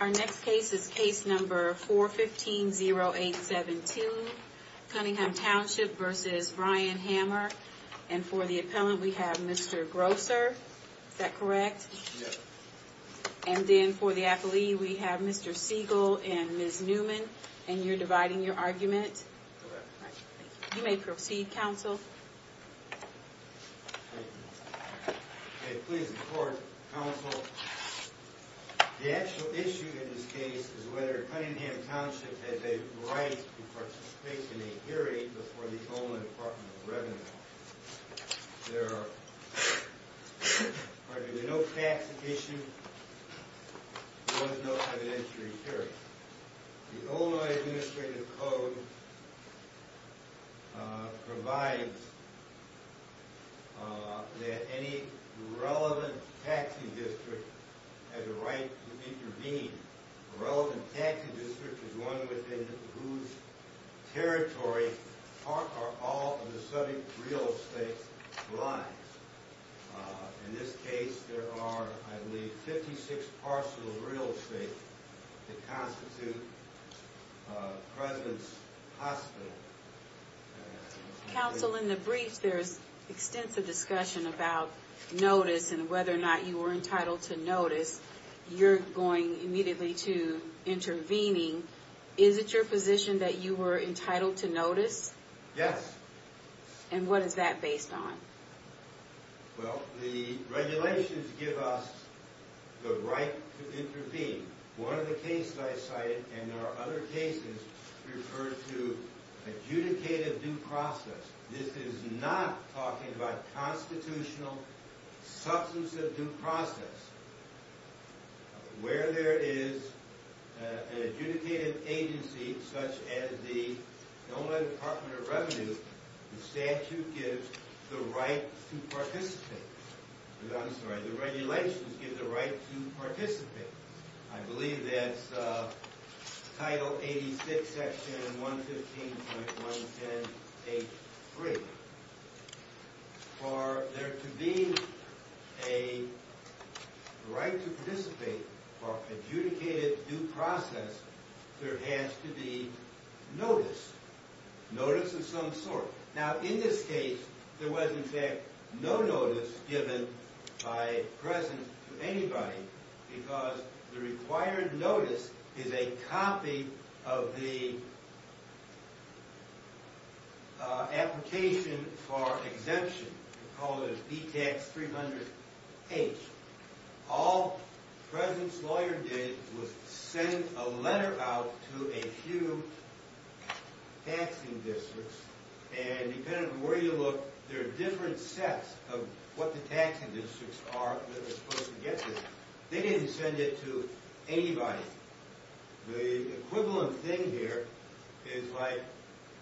Our next case is case number 415-0872, Cunningham Township v. Ryan Hamer. And for the appellant, we have Mr. Grosser. Is that correct? Yes. And then for the appellee, we have Mr. Siegel and Ms. Newman. And you're dividing your argument. Correct. You may proceed, counsel. Thank you. May it please the court, counsel, the actual issue in this case is whether Cunningham Township had the right to participate in a hearing before the Illinois Department of Revenue. There are no facts at issue. There was no evidentiary hearing. The Illinois Administrative Code provides that any relevant taxing district has a right to intervene. A relevant taxing district is one within whose territory all of the subject real estate lies. In this case, there are, I believe, 56 parts of the real estate that constitute President's Hospital. Counsel, in the briefs, there's extensive discussion about notice and whether or not you were entitled to notice. You're going immediately to intervening. Is it your position that you were entitled to notice? Yes. And what is that based on? Well, the regulations give us the right to intervene. One of the cases I cited, and there are other cases, refer to adjudicated due process. This is not talking about constitutional substance of due process. Where there is an adjudicated agency such as the Illinois Department of Revenue, the statute gives the right to participate. I'm sorry, the regulations give the right to participate. I believe that's Title 86, Section 115.110H3. For there to be a right to participate for adjudicated due process, there has to be notice. Notice of some sort. Now, in this case, there was, in fact, no notice given by President to anybody because the required notice is a copy of the application for exemption. We call it a B-Tax 300H. All President's lawyer did was send a letter out to a few taxing districts. And depending on where you look, there are different sets of what the taxing districts are that are supposed to get this. They didn't send it to anybody. The equivalent thing here is like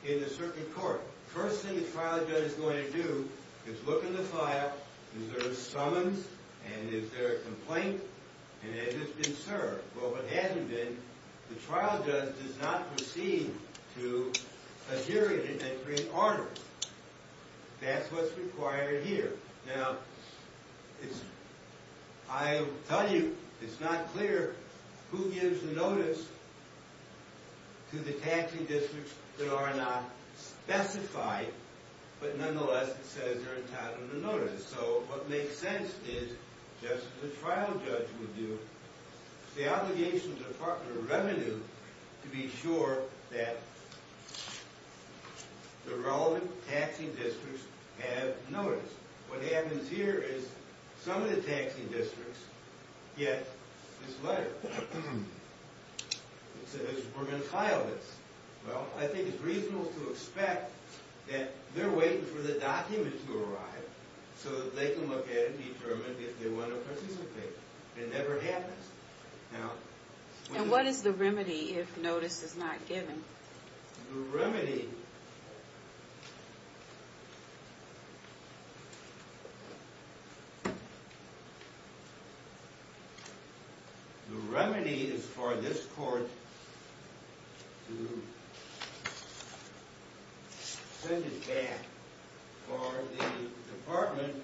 in the circuit court. First thing the trial judge is going to do is look in the file. Is there a summons? And is there a complaint? And has it been served? Well, if it hasn't been, the trial judge does not proceed to adhere to it and create order. That's what's required here. Now, I will tell you, it's not clear who gives the notice to the taxing districts that are not specified. But nonetheless, it says they're entitled to notice. So what makes sense is, just as the trial judge would do, the obligation of the Department of Revenue to be sure that the relevant taxing districts have notice. What happens here is some of the taxing districts get this letter. It says we're going to file this. Well, I think it's reasonable to expect that they're waiting for the document to arrive so that they can look at it and determine if they want to participate. It never happens. And what is the remedy if notice is not given? The remedy is for this court to send it back for the Department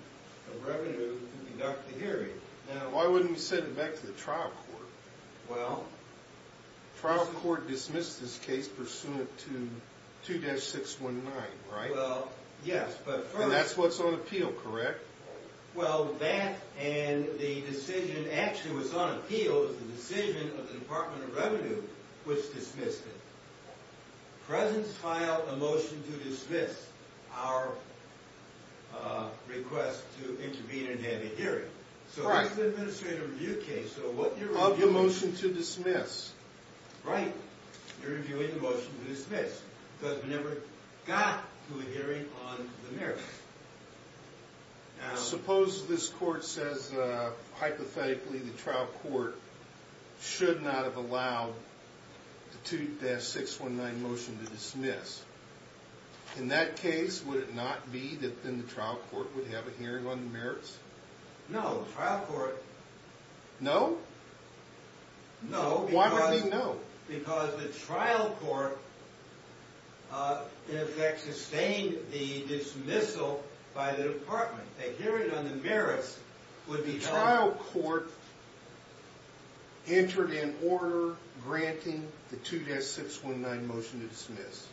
of Revenue to conduct the hearing. Now, why wouldn't we send it back to the trial court? Well? Trial court dismissed this case pursuant to 2-619, right? Well, yes. And that's what's on appeal, correct? Well, that and the decision, actually what's on appeal is the decision of the Department of Revenue, which dismissed it. Presidents filed a motion to dismiss our request to intervene and have a hearing. So that's an administrative review case. Of the motion to dismiss. Right. You're reviewing the motion to dismiss because we never got to a hearing on the merits. Now, suppose this court says, hypothetically, the trial court should not have allowed the 2-619 motion to dismiss. In that case, would it not be that then the trial court would have a hearing on the merits? No. No? No. Why would they no? Because the trial court, in effect, sustained the dismissal by the Department. A hearing on the merits would be held. The trial court entered in order granting the 2-619 motion to dismiss.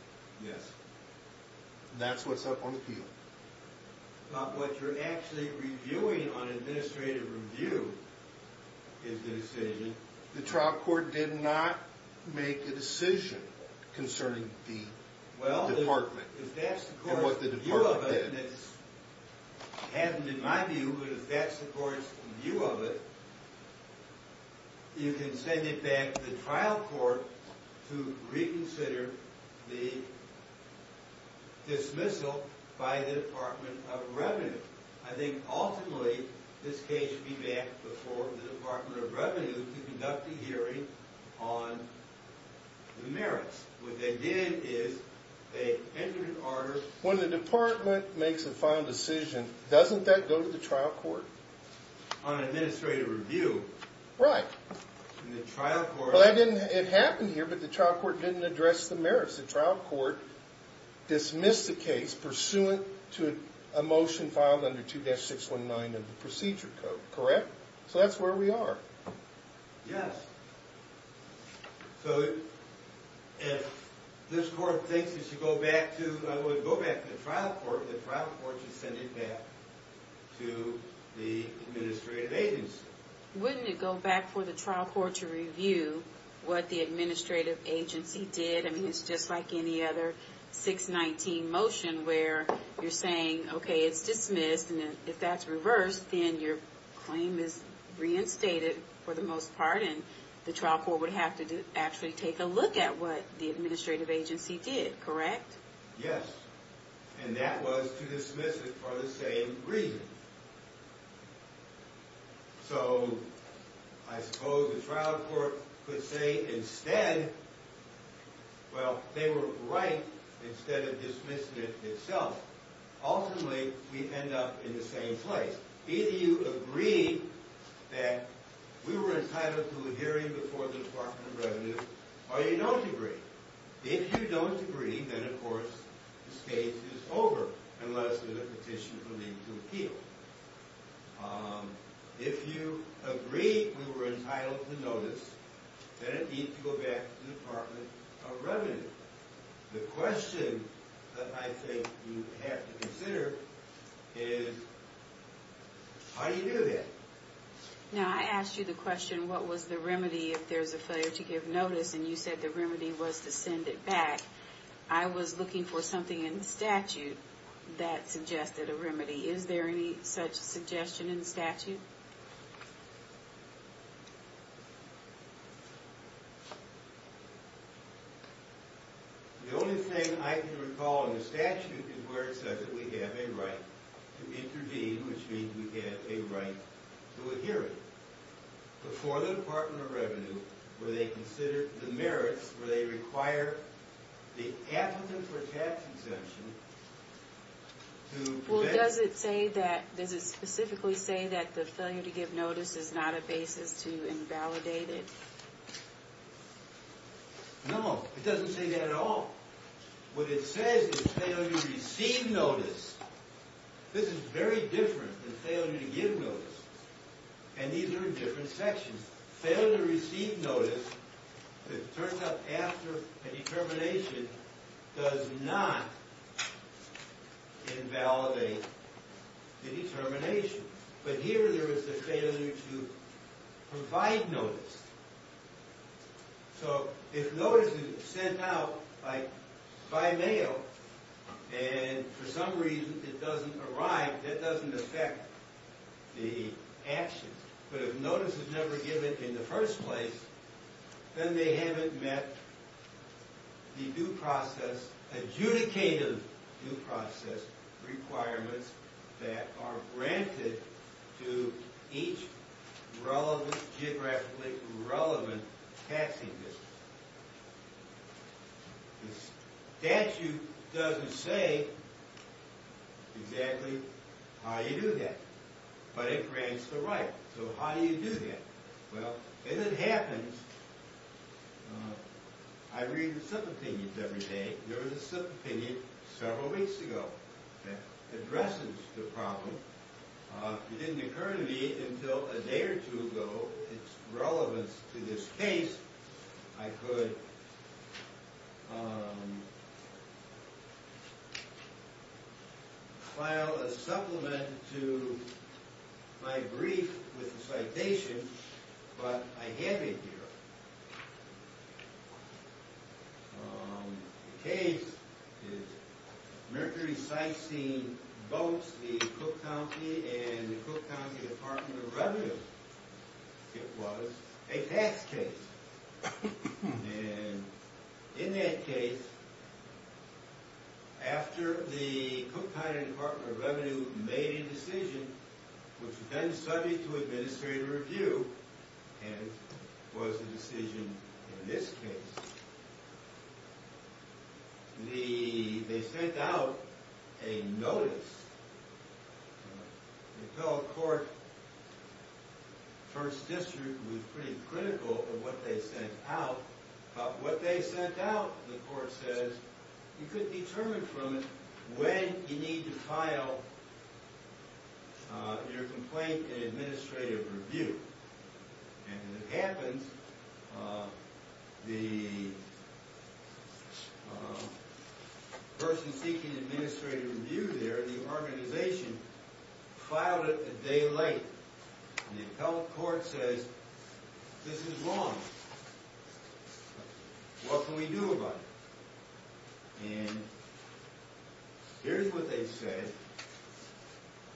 Yes. That's what's up on appeal. But what you're actually reviewing on administrative review is the decision. The trial court did not make a decision concerning the Department and what the Department did. It hasn't in my view, but if that's the court's view of it, you can send it back to the trial court to reconsider the dismissal by the Department of Revenue. I think, ultimately, this case would be back before the Department of Revenue to conduct a hearing on the merits. What they did is they entered in order. When the Department makes a final decision, doesn't that go to the trial court? On administrative review. Right. The trial court. It happened here, but the trial court didn't address the merits. The trial court dismissed the case pursuant to a motion filed under 2-619 of the procedure code. Correct? So that's where we are. Yes. So if this court thinks it should go back to the trial court, the trial court should send it back to the administrative agency. Wouldn't it go back for the trial court to review what the administrative agency did? I mean, it's just like any other 619 motion where you're saying, okay, it's dismissed. If that's reversed, then your claim is reinstated for the most part, and the trial court would have to actually take a look at what the administrative agency did. Correct? Yes. And that was to dismiss it for the same reason. So I suppose the trial court could say instead, well, they were right instead of dismissing it itself. Ultimately, we end up in the same place. Either you agree that we were entitled to a hearing before the Department of Revenue, or you don't agree. If you don't agree, then, of course, the case is over unless there's a petition for me to appeal. If you agree we were entitled to notice, then it needs to go back to the Department of Revenue. The question that I think you have to consider is, how do you do that? Now, I asked you the question, what was the remedy if there's a failure to give notice, and you said the remedy was to send it back. I was looking for something in the statute that suggested a remedy. Is there any such suggestion in the statute? The only thing I can recall in the statute is where it says that we have a right to intervene, which means we have a right to a hearing, before the Department of Revenue, where they consider the merits, where they require the applicant for tax exemption to- Well, does it say that, does it specifically say that the failure to give notice is not a basis to invalidate it? No, it doesn't say that at all. What it says is failure to receive notice. This is very different than failure to give notice, and these are in different sections. Failure to receive notice, it turns out, after a determination does not invalidate the determination. But here, there is a failure to provide notice. So, if notice is sent out by mail, and for some reason it doesn't arrive, that doesn't affect the action. But if notice is never given in the first place, then they haven't met the due process, adjudicative due process requirements that are granted to each geographically relevant taxing business. The statute doesn't say exactly how you do that, but it grants the right. So how do you do that? Well, as it happens, I read the sub-opinions every day. There was a sub-opinion several weeks ago that addresses the problem. It didn't occur to me until a day or two ago its relevance to this case. I could file a supplement to my brief with a citation, but I have it here. The case is Mercury-Systein-Botes v. Cook County and the Cook County Department of Revenue. It was a tax case. And in that case, after the Cook County Department of Revenue made a decision, which was then subject to administrative review, and was the decision in this case, they sent out a notice. The appellate court first district was pretty critical of what they sent out. But what they sent out, the court says, you could determine from it when you need to file your complaint in administrative review. And as it happens, the person seeking administrative review there, the organization, filed it a day late. And the appellate court says, this is wrong. What can we do about it? And here's what they said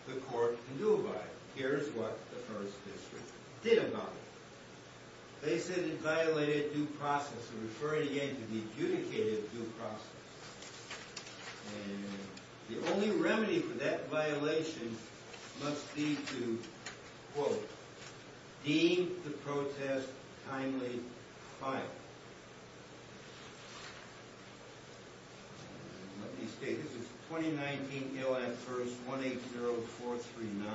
the court can do about it. Here's what the first district did about it. They said it violated due process. I'm referring again to the adjudicated due process. And the only remedy for that violation must be to, quote, deem the protest timely filed. Let me see. This is 2019, AIL Act, verse 180439.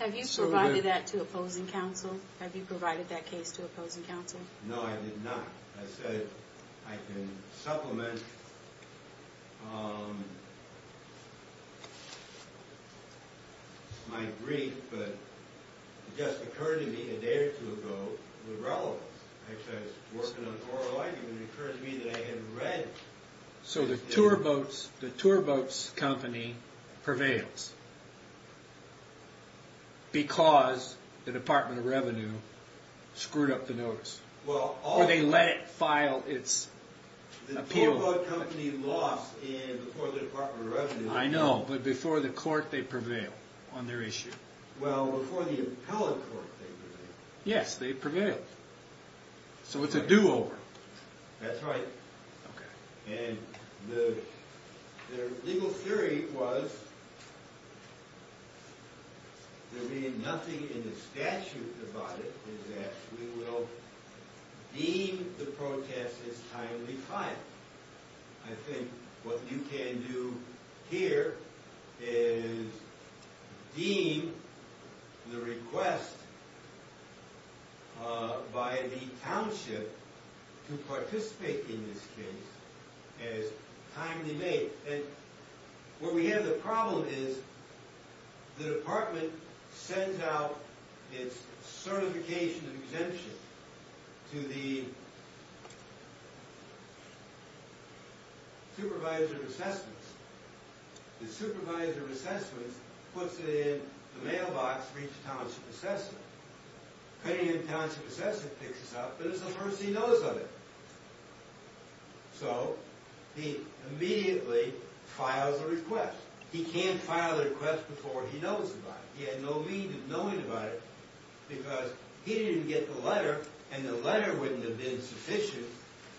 Have you provided that to opposing counsel? Have you provided that case to opposing counsel? No, I did not. I said I can supplement my brief. But it just occurred to me a day or two ago with relevance. Actually, I was working on oral writing, and it occurred to me that I had read. So the tour boats company prevails because the Department of Revenue screwed up the notice. Or they let it file its appeal. The tour boat company lost before the Department of Revenue. I know. But before the court, they prevail on their issue. Well, before the appellate court, they prevailed. Yes, they prevailed. So it's a do-over. That's right. And their legal theory was there being nothing in the statute about it is that we will deem the protest as timely filed. I think what you can do here is deem the request by the township to participate in this case as timely made. What we have as a problem is the department sends out its certification and exemption to the supervisor of assessments. The supervisor of assessments puts it in the mailbox for each township assessment. The county and township assessment picks this up, but it's the first he knows of it. So he immediately files a request. He can't file a request before he knows about it. He had no meaning of knowing about it because he didn't get the letter, and the letter wouldn't have been sufficient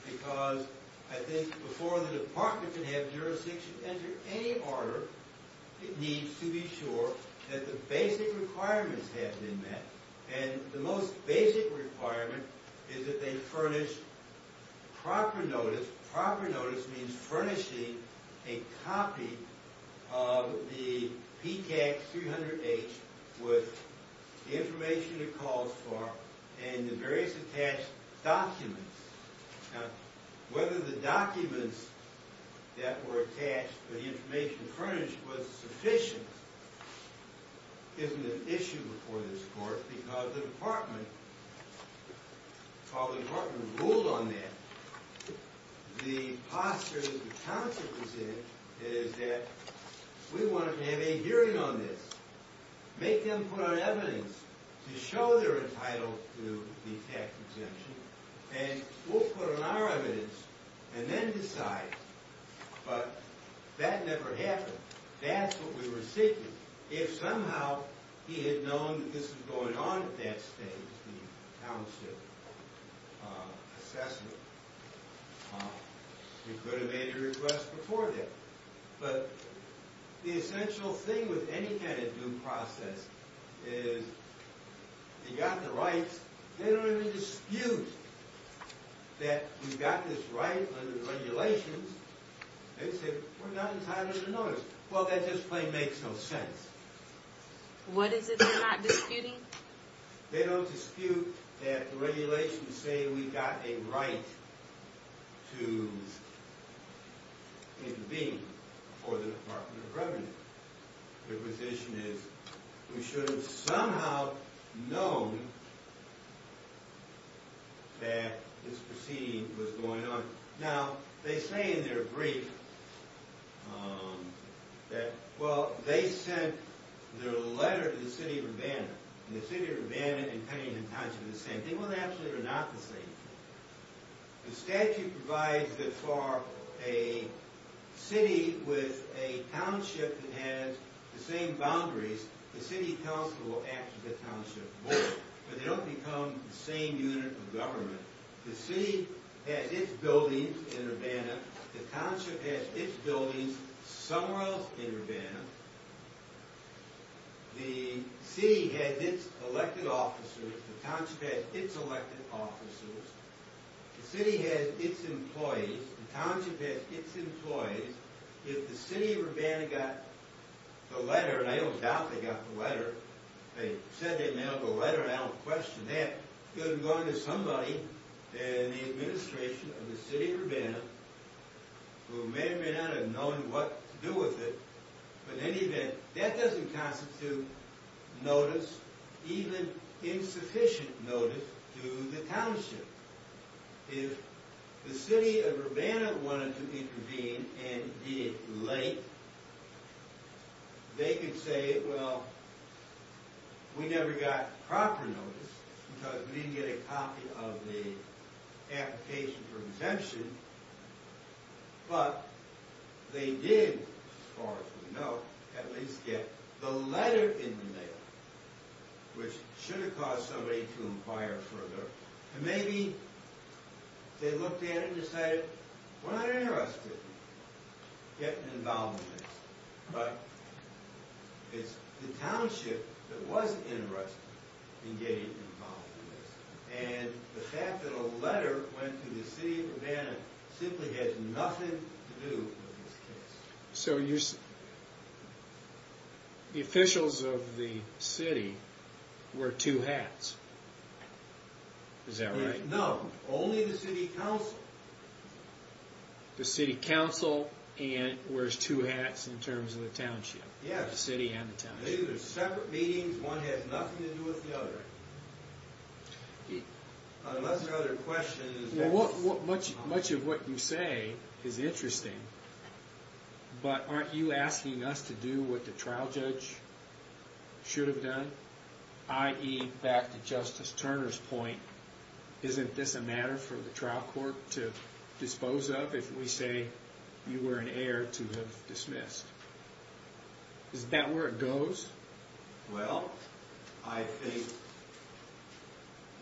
because, I think, before the department could have jurisdiction enter any order, it needs to be sure that the basic requirements have been met. And the most basic requirement is that they furnish proper notice. Proper notice means furnishing a copy of the PCAG 300H with the information it calls for and the various attached documents. Now, whether the documents that were attached to the information furnished was sufficient isn't an issue before this court because the department, while the department ruled on that, the posture that the township was in is that we wanted to have a hearing on this, make them put on evidence to show they're entitled to the tax exemption, and we'll put on our evidence and then decide. But that never happened. That's what we were seeking. If somehow he had known that this was going on at that stage, the township assessment, he could have made a request before then. But the essential thing with any kind of due process is if you've got the rights, they don't even dispute that we've got this right under the regulations. They say, we're not entitled to notice. Well, that just plain makes no sense. What is it they're not disputing? They don't dispute that the regulations say we've got a right to intervene before the Department of Revenue. Their position is we should have somehow known that this proceeding was going on. Now, they say in their brief that, well, they sent their letter to the city of Urbana, and the city of Urbana and Cunningham Township are the same thing. Well, actually, they're not the same thing. The statute provides that for a city with a township that has the same boundaries, the city council will actually get township support. But they don't become the same unit of government. The city has its buildings in Urbana. The township has its buildings somewhere else in Urbana. The city has its elected officers. The township has its elected officers. The city has its employees. The township has its employees. If the city of Urbana got the letter, and I don't doubt they got the letter. They said they mailed the letter, and I don't question that. It could have gone to somebody in the administration of the city of Urbana who may or may not have known what to do with it. But in any event, that doesn't constitute notice, even insufficient notice, to the township. If the city of Urbana wanted to intervene and be late, they could say, well, we never got proper notice because we didn't get a copy of the application for exemption. But they did, as far as we know, at least get the letter in the mail, which should have caused somebody to inquire further. And maybe they looked at it and decided, we're not interested in getting involved in this. But it's the township that was interested in getting involved in this. And the fact that a letter went to the city of Urbana simply has nothing to do with this case. So the officials of the city wear two hats. Is that right? No, only the city council. The city council wears two hats in terms of the township. Yes. The city and the township. These are separate meetings. One has nothing to do with the other. Unless there are other questions. Much of what you say is interesting. But aren't you asking us to do what the trial judge should have done? I.e., back to Justice Turner's point, isn't this a matter for the trial court to dispose of if we say you were an heir to have dismissed? Isn't that where it goes? Well, I think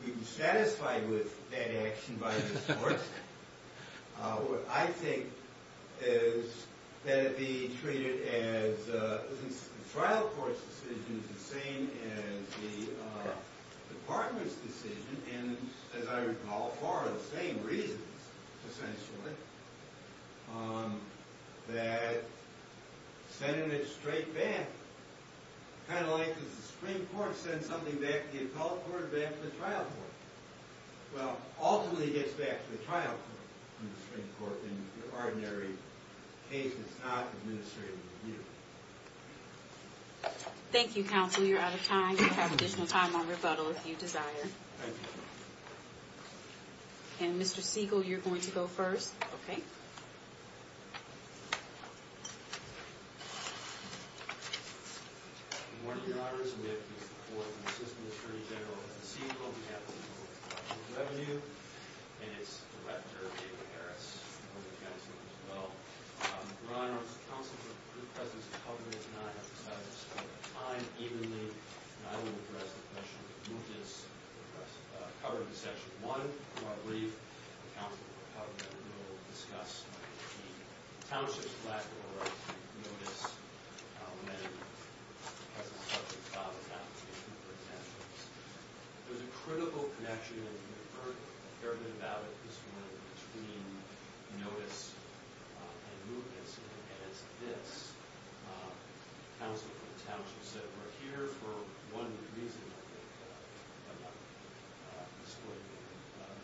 we'd be satisfied with that action by the courts. What I think is that it be treated as the trial court's decision is the same as the department's decision and, as I recall, for the same reasons, essentially, that sending it straight back, kind of like the Supreme Court sends something back to the appellate court and back to the trial court. Well, ultimately it gets back to the trial court and the Supreme Court in the ordinary case that's not administrative review. Thank you, counsel. You're out of time. You have additional time on rebuttal if you desire. Thank you. And, Mr. Siegel, you're going to go first. Okay. One of the honors with the support of Assistant Attorney General Siegel on behalf of the Department of Revenue and its director, David Harris, on behalf of the counsel as well. Your Honor, as counsel, your presence is covered and I have decided to spend my time evenly and I will address the question of motives covered in Section 1 of our brief. The counsel will cover that and we will discuss the township's lack of a right to notice when a person is subject to file an application, for example. There's a critical connection, and you've heard a fair bit about it, this one between notice and movements. And it's this. The counsel for the township said, we're here for one reason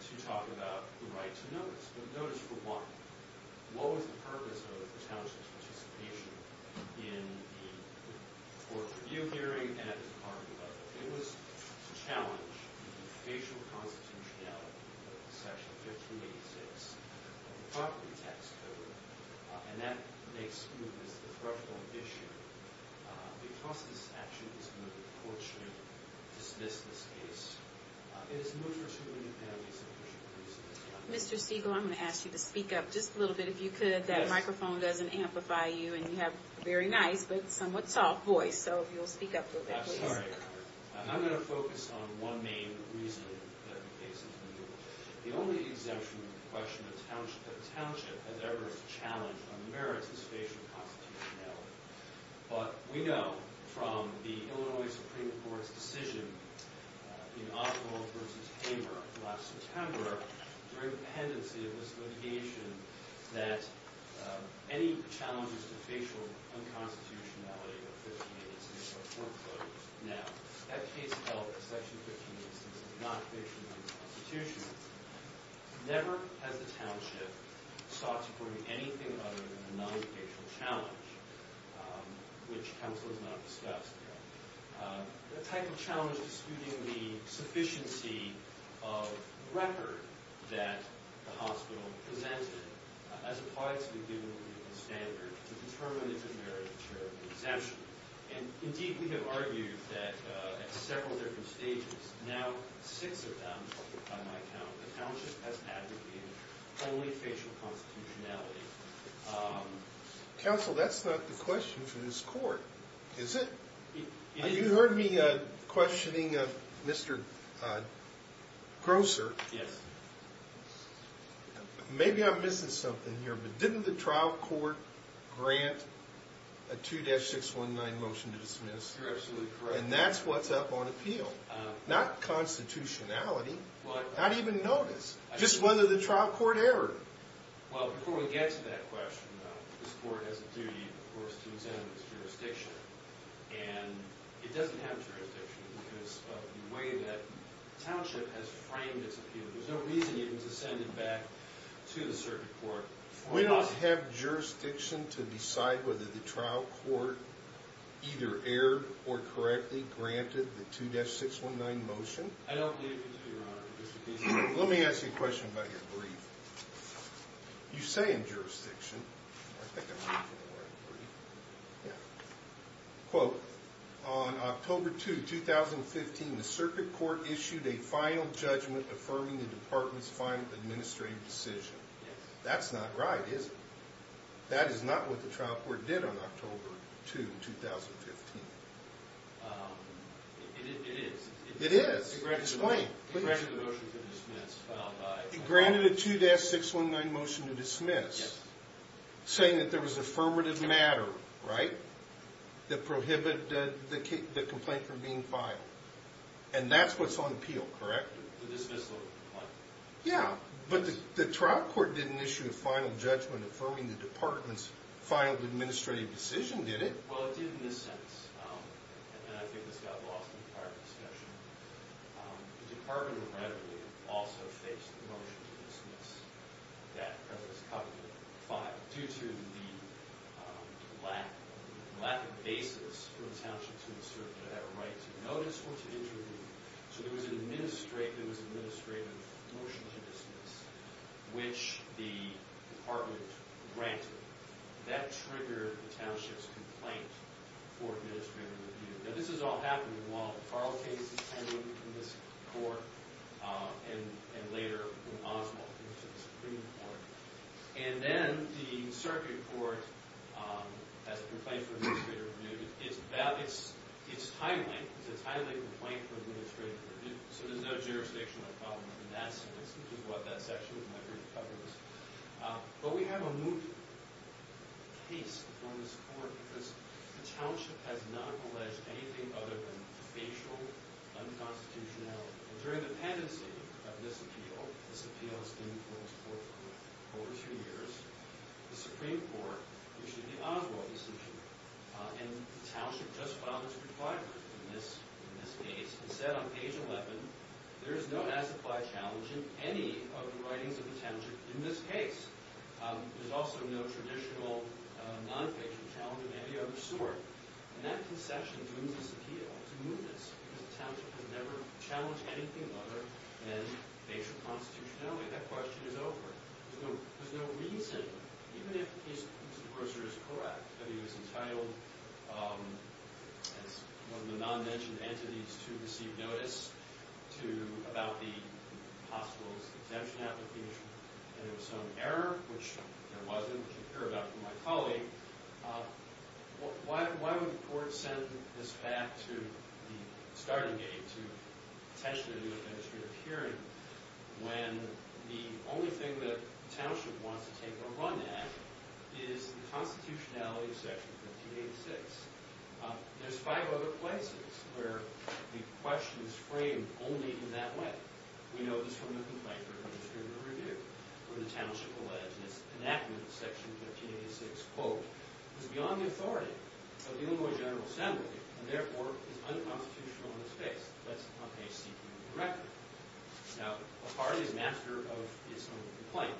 to talk about the right to notice. But notice for what? What was the purpose of the township's participation in the court review hearing and at the department level? It was to challenge the facial constitutionality of Section 1586 of the property tax code, and that makes movements the preferable issue. Because this action is going to be a courtship, dismiss this case, it is moved for two independent submissions. Mr. Siegel, I'm going to ask you to speak up just a little bit if you could. That microphone doesn't amplify you, and you have a very nice but somewhat soft voice, so if you'll speak up a little bit, please. I'm sorry. I'm going to focus on one main reason that the case is moved. The only exemption in the question of the township has ever challenged or merits its facial constitutionality. But we know from the Illinois Supreme Court's decision in Oswald v. Hamer last September, during the pendency of this litigation, that any challenges to facial unconstitutionality of Section 1586 are foreclosed now. That case held that Section 1586 is not facial unconstitutionality. Never has the township sought to bring anything other than a non-facial challenge, which counsel has not discussed. The type of challenge excluding the sufficiency of record that the hospital presented as applies to the given legal standard to determine if it merits a charitable exemption. And, indeed, we have argued that at several different stages, now six of them by my count, the township has advocated only facial constitutionality. Counsel, that's not the question for this court, is it? You heard me questioning Mr. Grosser. Yes. Maybe I'm missing something here, but didn't the trial court grant a 2-619 motion to dismiss? You're absolutely correct. And that's what's up on appeal. Not constitutionality. Not even notice. Just whether the trial court erred. Well, before we get to that question, this court has a duty, of course, to examine its jurisdiction. And it doesn't have jurisdiction because of the way that township has framed its appeal. There's no reason even to send it back to the circuit court. We don't have jurisdiction to decide whether the trial court either erred or correctly granted the 2-619 motion. I don't believe you do, Your Honor. Let me ask you a question about your brief. You say in jurisdiction, I think I'm going for the word brief, quote, on October 2, 2015, the circuit court issued a final judgment affirming the department's final administrative decision. That's not right, is it? That is not what the trial court did on October 2, 2015. It is. It is. Explain. It granted the motion to dismiss. It granted a 2-619 motion to dismiss, saying that there was affirmative matter, right, that prohibited the complaint from being filed. And that's what's on appeal, correct? The dismissal of the complaint. Yeah. But the trial court didn't issue a final judgment affirming the department's final administrative decision, did it? Well, it did in this sense. And I think this got lost in the prior discussion. The department, inevitably, also faced the motion to dismiss that President's Covenant 5 due to the lack of basis for the township to assert that right to notice or to interview. So there was an administrative motion to dismiss which the department granted. That triggered the township's complaint for administrative review. Now, this is all happening while the Farrell case is pending in this court and later when Oswald comes to the Supreme Court. And then the circuit court has a complaint for administrative review. It's timely. It's a timely complaint for administrative review. So there's no jurisdictional problem in that sense, which is what that section of my brief covers. But we have a moot case before this court because the township has not alleged anything other than the dependency of this appeal. This appeal has been before this court for over two years. The Supreme Court issued the Oswald decision. And the township just filed its requirement in this case and said on page 11, there is no as-applied challenge in any of the writings of the township in this case. There's also no traditional non-fiction challenge of any other sort. And that concession doomed this appeal to mootness because the township has never challenged anything other than basic constitutionality. That question is over. There's no reason, even if Mr. Grosser is correct, that he was entitled, as one of the non-mentioned entities, to receive notice about the hospital's exemption application. And there was some error, which there wasn't, which you hear about from my colleague. Why would the court send this back to the starting gate to potentially do an administrative hearing when the only thing that the township wants to take a run at is the constitutionality of Section 1586? There's five other places where the question is framed only in that way. We know this from the complaint written in the Supreme Court Review where the township alleged that its enactment of Section 1586, quote, was beyond the authority of the Illinois General Assembly and therefore is unconstitutional in its case. That's not based directly. Now, a party is master of its own complaint.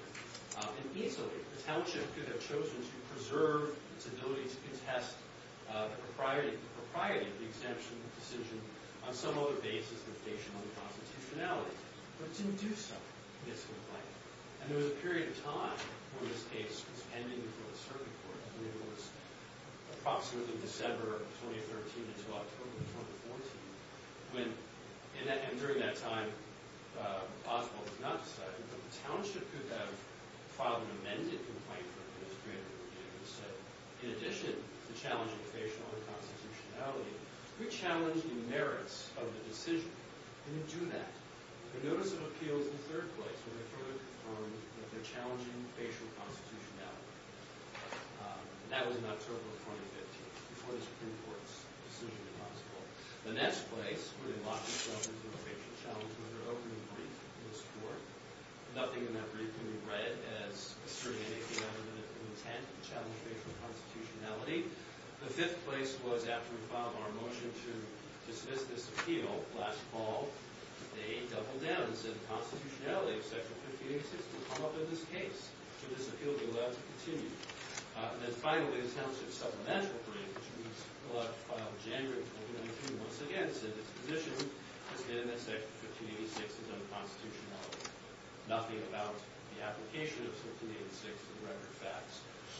And easily, the township could have chosen to preserve its ability to contest the propriety of the exemption decision on some other basis than station on the constitutionality. But it didn't do so in this complaint. And there was a period of time when this case was pending before the circuit court. I mean, it was approximately December of 2013 until October of 2014. And during that time, Oswald was not decided. But the township could have filed an amended complaint for administrative review and said, in addition to challenging station on the constitutionality, we challenge the merits of the decision. It didn't do that. The notice of appeal was in third place when it further confirmed that they're challenging facial constitutionality. That was in October of 2015, before the Supreme Court's decision was possible. The next place where they locked themselves into a facial challenge was their opening brief in this court. Nothing in that brief can be read as asserting anything other than an intent to challenge facial constitutionality. The fifth place was after we filed our motion to dismiss this appeal last fall. They doubled down and said the constitutionality of Section 1586 will come up in this case. So this appeal will be allowed to continue. And then finally, the township's supplemental brief, which we filed in January of 2013 once again, said its position has been that Section 1586 is unconstitutional, nothing about the application of Section 1586 for the record of facts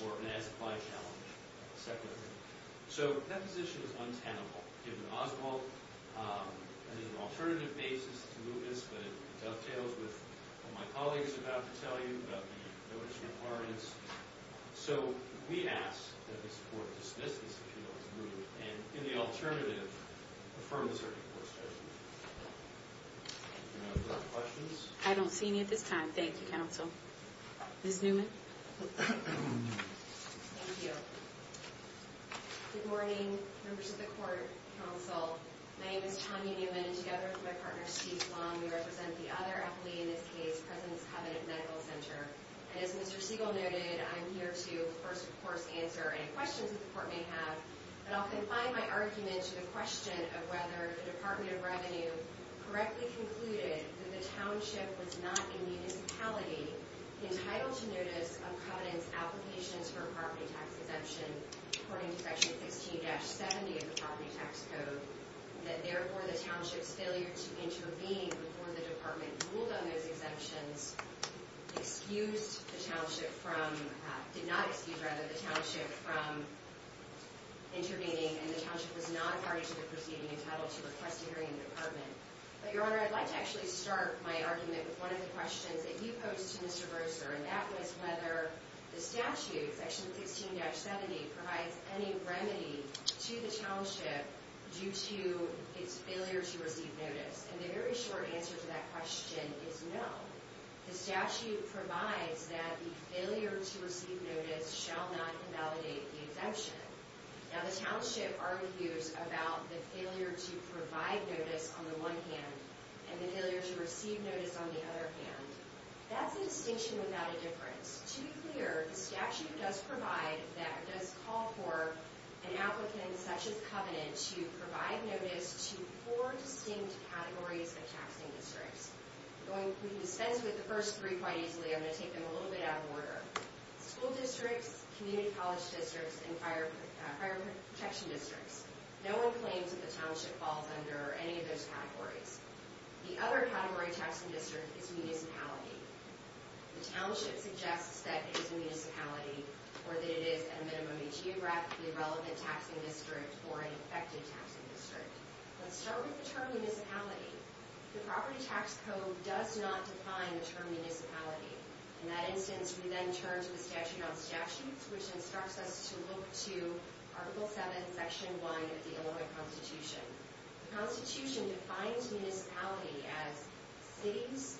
or an as-applied challenge. So that position is untenable, given Oswald, and there's an alternative basis to move this, but it dovetails with what my colleague is about to tell you about the notice in accordance. So we ask that this court dismiss this appeal as moved and, in the alternative, affirm the circuit court's judgment. Any other questions? I don't see any at this time. Thank you, counsel. Ms. Newman? Thank you. Good morning, members of the court, counsel. My name is Tanya Newman, and together with my partner, Steve Sloan, we represent the other appellee in this case, President's Covenant Medical Center. And as Mr. Siegel noted, I'm here to first, of course, answer any questions that the court may have, but I'll confine my argument to the question of whether the Department of Revenue correctly concluded that the township was not in the municipality entitled to notice of Covenant's application for a property tax exemption, according to Section 16-70 of the Property Tax Code, that, therefore, the township's failure to intervene before the Department ruled on those exemptions excused the township from... did not excuse, rather, the township from intervening, and the township was not party to the proceeding entitled to request a hearing in the Department. But, Your Honor, I'd like to actually start my argument with one of the questions that you posed to Mr. Broser, and that was whether the statute, Section 16-70, provides any remedy to the township due to its failure to receive notice. And the very short answer to that question is no. The statute provides that the failure to receive notice shall not invalidate the exemption. Now, the township argues about the failure to provide notice on the one hand and the failure to receive notice on the other hand. That's a distinction without a difference. To be clear, the statute does provide... does call for an applicant, such as Covenant, to provide notice to four distinct categories of taxing districts. I'm going to dispense with the first three quite easily. I'm going to take them a little bit out of order. School districts, community college districts, and fire protection districts. No one claims that the township falls under any of those categories. The other category taxing district is municipality. The township suggests that it is a municipality or that it is, at a minimum, a geographically relevant taxing district or an affected taxing district. Let's start with the term municipality. The property tax code does not define the term municipality. In that instance, we then turn to the statute on statutes, which instructs us to look to Article 7, Section 1 of the Illinois Constitution. The Constitution defines municipality as cities,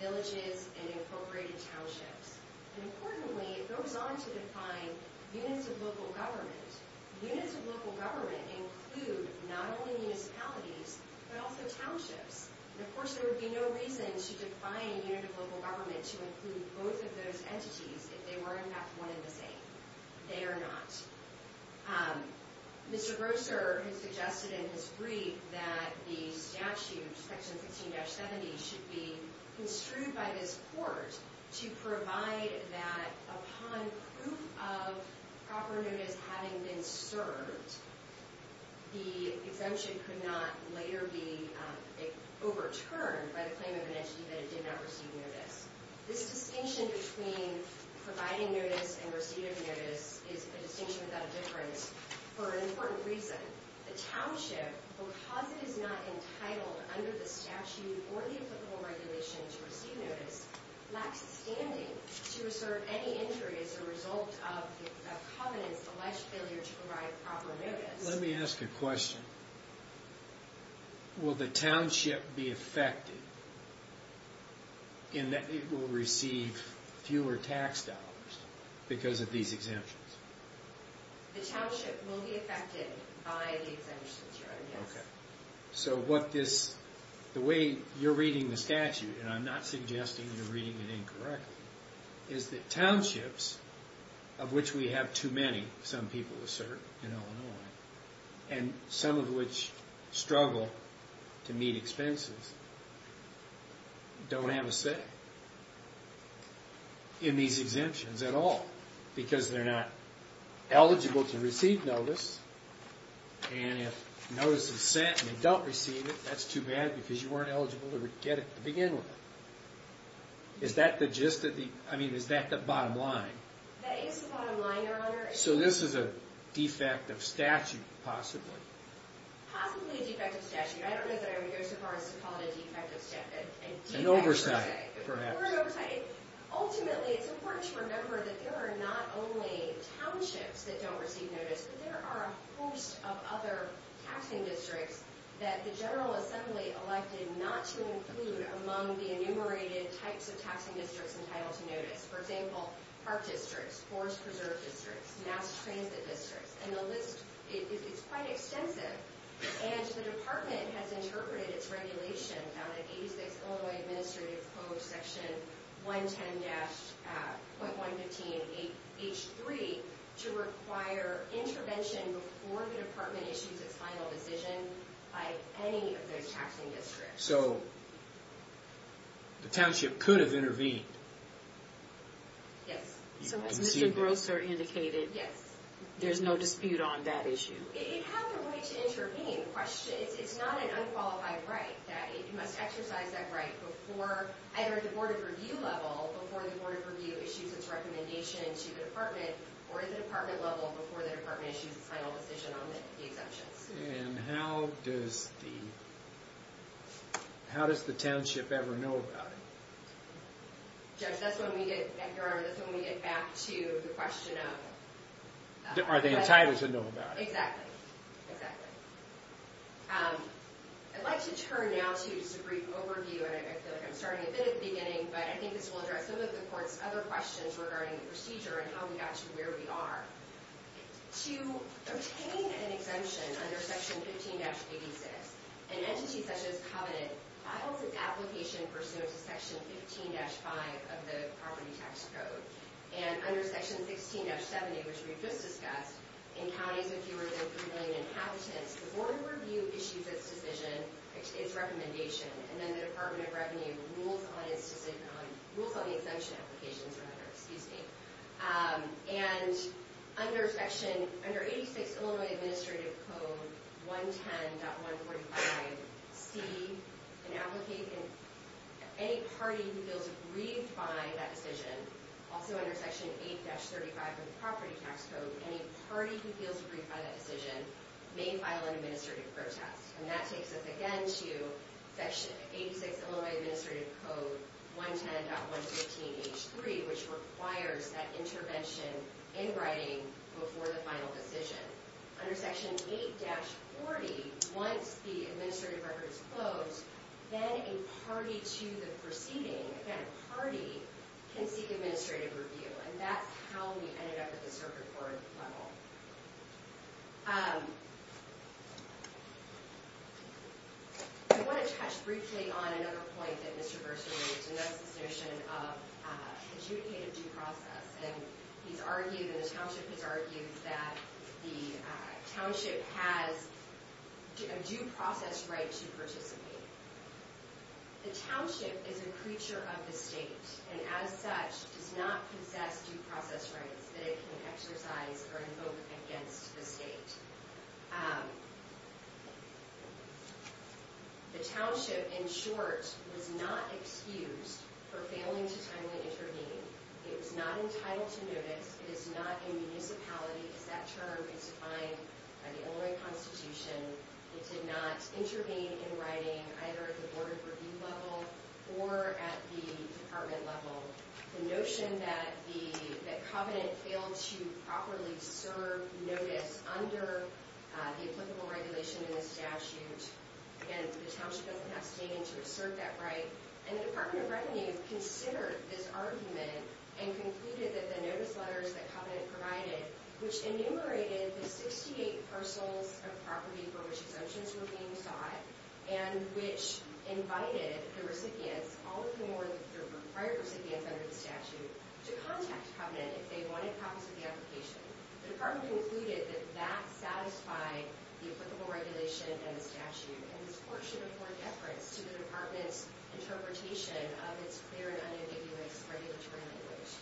villages, and incorporated townships. Importantly, it goes on to define units of local government. Units of local government include not only municipalities, but also townships. Of course, there would be no reason to define a unit of local government to include both of those entities if they were, in fact, one and the same. They are not. Mr. Grosser has suggested in his brief that the statute, Section 16-70, should be construed by this court to provide that upon proof of proper notice having been served, the exemption could not later be overturned by the claim of an entity that it did not receive notice. This distinction between providing notice and receiving notice is a distinction without a difference. For an important reason, the township, because it is not entitled under the statute or the applicable regulation to receive notice, lacks the standing to reserve any injury as a result of the covenant's alleged failure to provide proper notice. Let me ask a question. Will the township be affected in that it will receive fewer tax dollars because of these exemptions? The township will be affected by the exemptions, Your Honor. Okay. So the way you're reading the statute, and I'm not suggesting you're reading it incorrectly, is that townships, of which we have too many, some people assert, in Illinois, and some of which struggle to meet expenses, don't have a say in these exemptions at all because they're not eligible to receive notice. And if notice is sent and you don't receive it, that's too bad because you weren't eligible to get it to begin with. Is that the bottom line? That is the bottom line, Your Honor. So this is a defect of statute, possibly. Possibly a defect of statute. I don't know that I would go so far as to call it a defect of statute. An oversight, perhaps. Or an oversight. Ultimately, it's important to remember that there are not only townships that don't receive notice, but there are a host of other taxing districts that the General Assembly elected not to include among the enumerated types of taxing districts entitled to notice. For example, park districts, forest preserve districts, mass transit districts. And the list is quite extensive. And the Department has interpreted its regulation found in 86 Illinois Administrative Code Section 110.115.H3 to require intervention before the Department issues its final decision by any of those taxing districts. So the township could have intervened. Yes. So as Mr. Grosser indicated, there's no dispute on that issue. It has the right to intervene. It's not an unqualified right. It must exercise that right either at the Board of Review level before the Board of Review issues its recommendation to the Department, or at the Department level before the Department issues its final decision on the exemptions. And how does the township ever know about it? Judge, that's when we get back to the question of... Are they entitled to know about it? Exactly. Exactly. I'd like to turn now to just a brief overview, and I feel like I'm starting a bit at the beginning, but I think this will address some of the Court's other questions regarding the procedure and how we got to where we are. To obtain an exemption under Section 15-86, an entity such as Covenant files an application pursuant to Section 15-5 of the Property Tax Code. And under Section 16-70, which we've just discussed, in counties of fewer than 3 million inhabitants, the Board of Review issues its decision, its recommendation, and then the Department of Revenue rules on its decision on... rules on the exemption applications, for that matter. Excuse me. And under Section... Under 86 Illinois Administrative Code 110.145C, an applicant, any party who feels aggrieved by that decision, also under Section 8-35 of the Property Tax Code, any party who feels aggrieved by that decision may file an administrative protest. And that takes us, again, to Section 86 Illinois Administrative Code 110.115H3, which requires that intervention in writing before the final decision. Under Section 8-40, once the administrative record is closed, then a party to the proceeding, again, a party, can seek administrative review. And that's how we ended up at the Circuit Court level. I want to touch briefly on another point that Mr. Burson raised, and that's this notion of adjudicative due process. And he's argued, and the township has argued, that the township has a due process right to participate. The township is a creature of the state, and as such, does not possess due process rights that it can exercise or invoke against the state. The township, in short, was not excused for failing to timely intervene. It was not entitled to notice. It is not a municipality, because that term is defined by the Illinois Constitution. It did not intervene in writing, either at the Board of Review level or at the department level. The notion that Covenant failed to properly serve notice under the applicable regulation in the statute, again, the township doesn't have standing to assert that right. And the Department of Revenue considered this argument and concluded that the notice letters that Covenant provided, which enumerated the 68 parcels of property for which exemptions were being sought, and which invited the recipients, all of whom were the prior recipients under the statute, to contact Covenant if they wanted copies of the application. The department concluded that that satisfied the applicable regulation and the statute, and this court should afford deference to the department's interpretation of its clear and unambiguous regulatory language.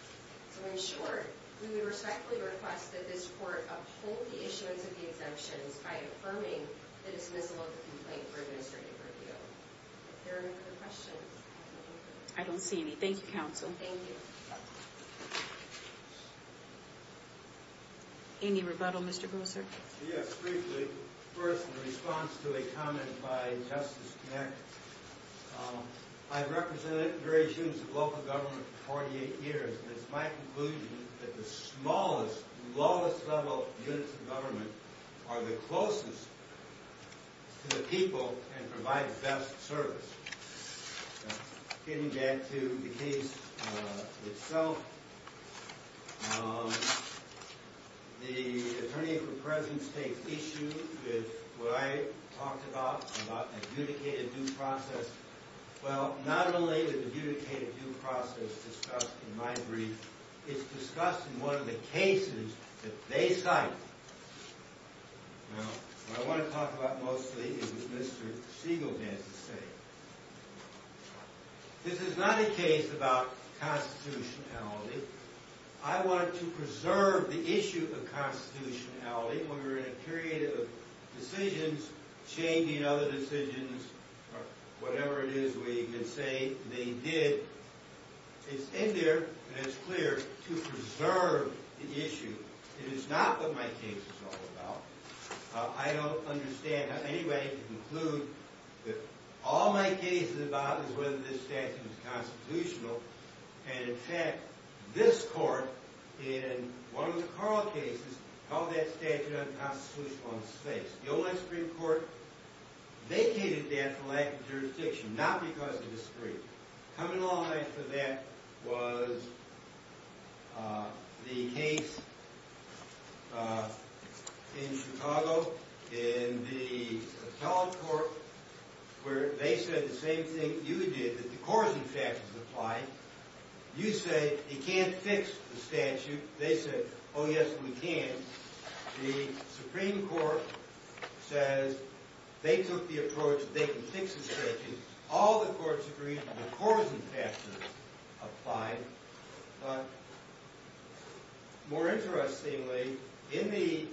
So, in short, we would respectfully request that this court uphold the issuance of the exemptions by affirming the dismissal of the complaint for administrative review. Are there any other questions? I don't see any. Thank you, counsel. Thank you. Any rebuttal, Mr. Grosser? Yes, briefly. First, in response to a comment by Justice Knax, I've represented various units of local government that the smallest, lowest-level units of government are the closest to the people and provide best service. Getting back to the case itself, the attorney for President's case issued with what I talked about, about an adjudicated due process. Well, not only was the adjudicated due process discussed, in my brief, it's discussed in one of the cases that they cited. Now, what I want to talk about mostly is what Mr. Siegel has to say. This is not a case about constitutionality. I wanted to preserve the issue of constitutionality when we're in a period of decisions changing other decisions or whatever it is we can say they did. It's in there, and it's clear, to preserve the issue. It is not what my case is all about. I don't understand any way to conclude that all my case is about is whether this statute is constitutional, and in fact, this court, in one of the Carl cases, held that statute unconstitutional on its face. The old Supreme Court vacated that for lack of jurisdiction, not because of discretion. Coming along after that was the case in Chicago, in the appellate court, where they said the same thing you did, that the court, in fact, is applying. You say you can't fix the statute. They said, oh, yes, we can. The Supreme Court says they took the approach that they can fix the statute. All the courts agreed, and the court was in fashion to apply it, but more interestingly, in the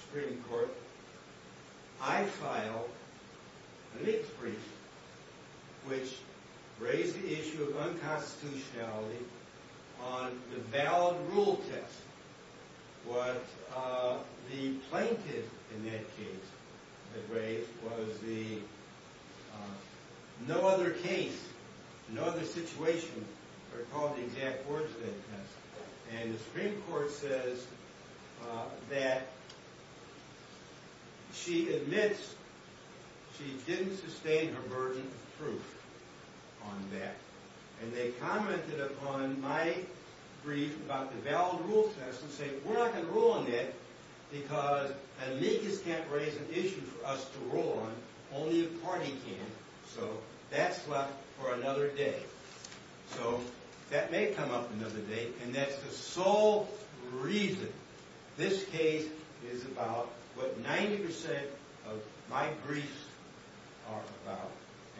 Supreme Court, I filed the next brief, which raised the issue of unconstitutionality on the valid rule test. What the plaintiff in that case had raised was the no other case, no other situation, they're called the exact words of that case, and the Supreme Court says that she admits she didn't sustain her burden of proof on that, and they commented upon my brief about the valid rule test and said, we're not going to rule on that because an amicus can't raise an issue for us to rule on. Only a party can, so that's left for another day. So that may come up another day, and that's the sole reason this case is about what 90% of my briefs are about,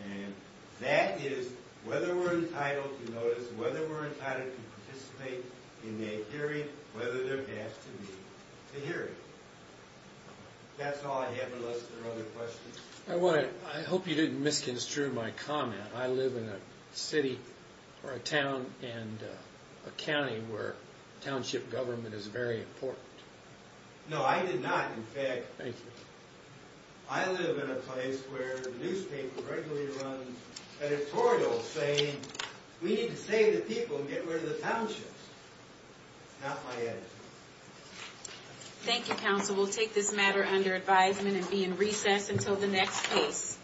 and that is whether we're entitled to notice, whether we're entitled to participate in a hearing, and whether there has to be a hearing. That's all I have unless there are other questions. I hope you didn't misconstrue my comment. I live in a city or a town and a county where township government is very important. No, I did not, in fact. Thank you. I live in a place where the newspaper regularly runs editorials saying, we need to save the people and get rid of the townships. That's my edit. Thank you, counsel. We'll take this matter under advisement and be in recess until the next case.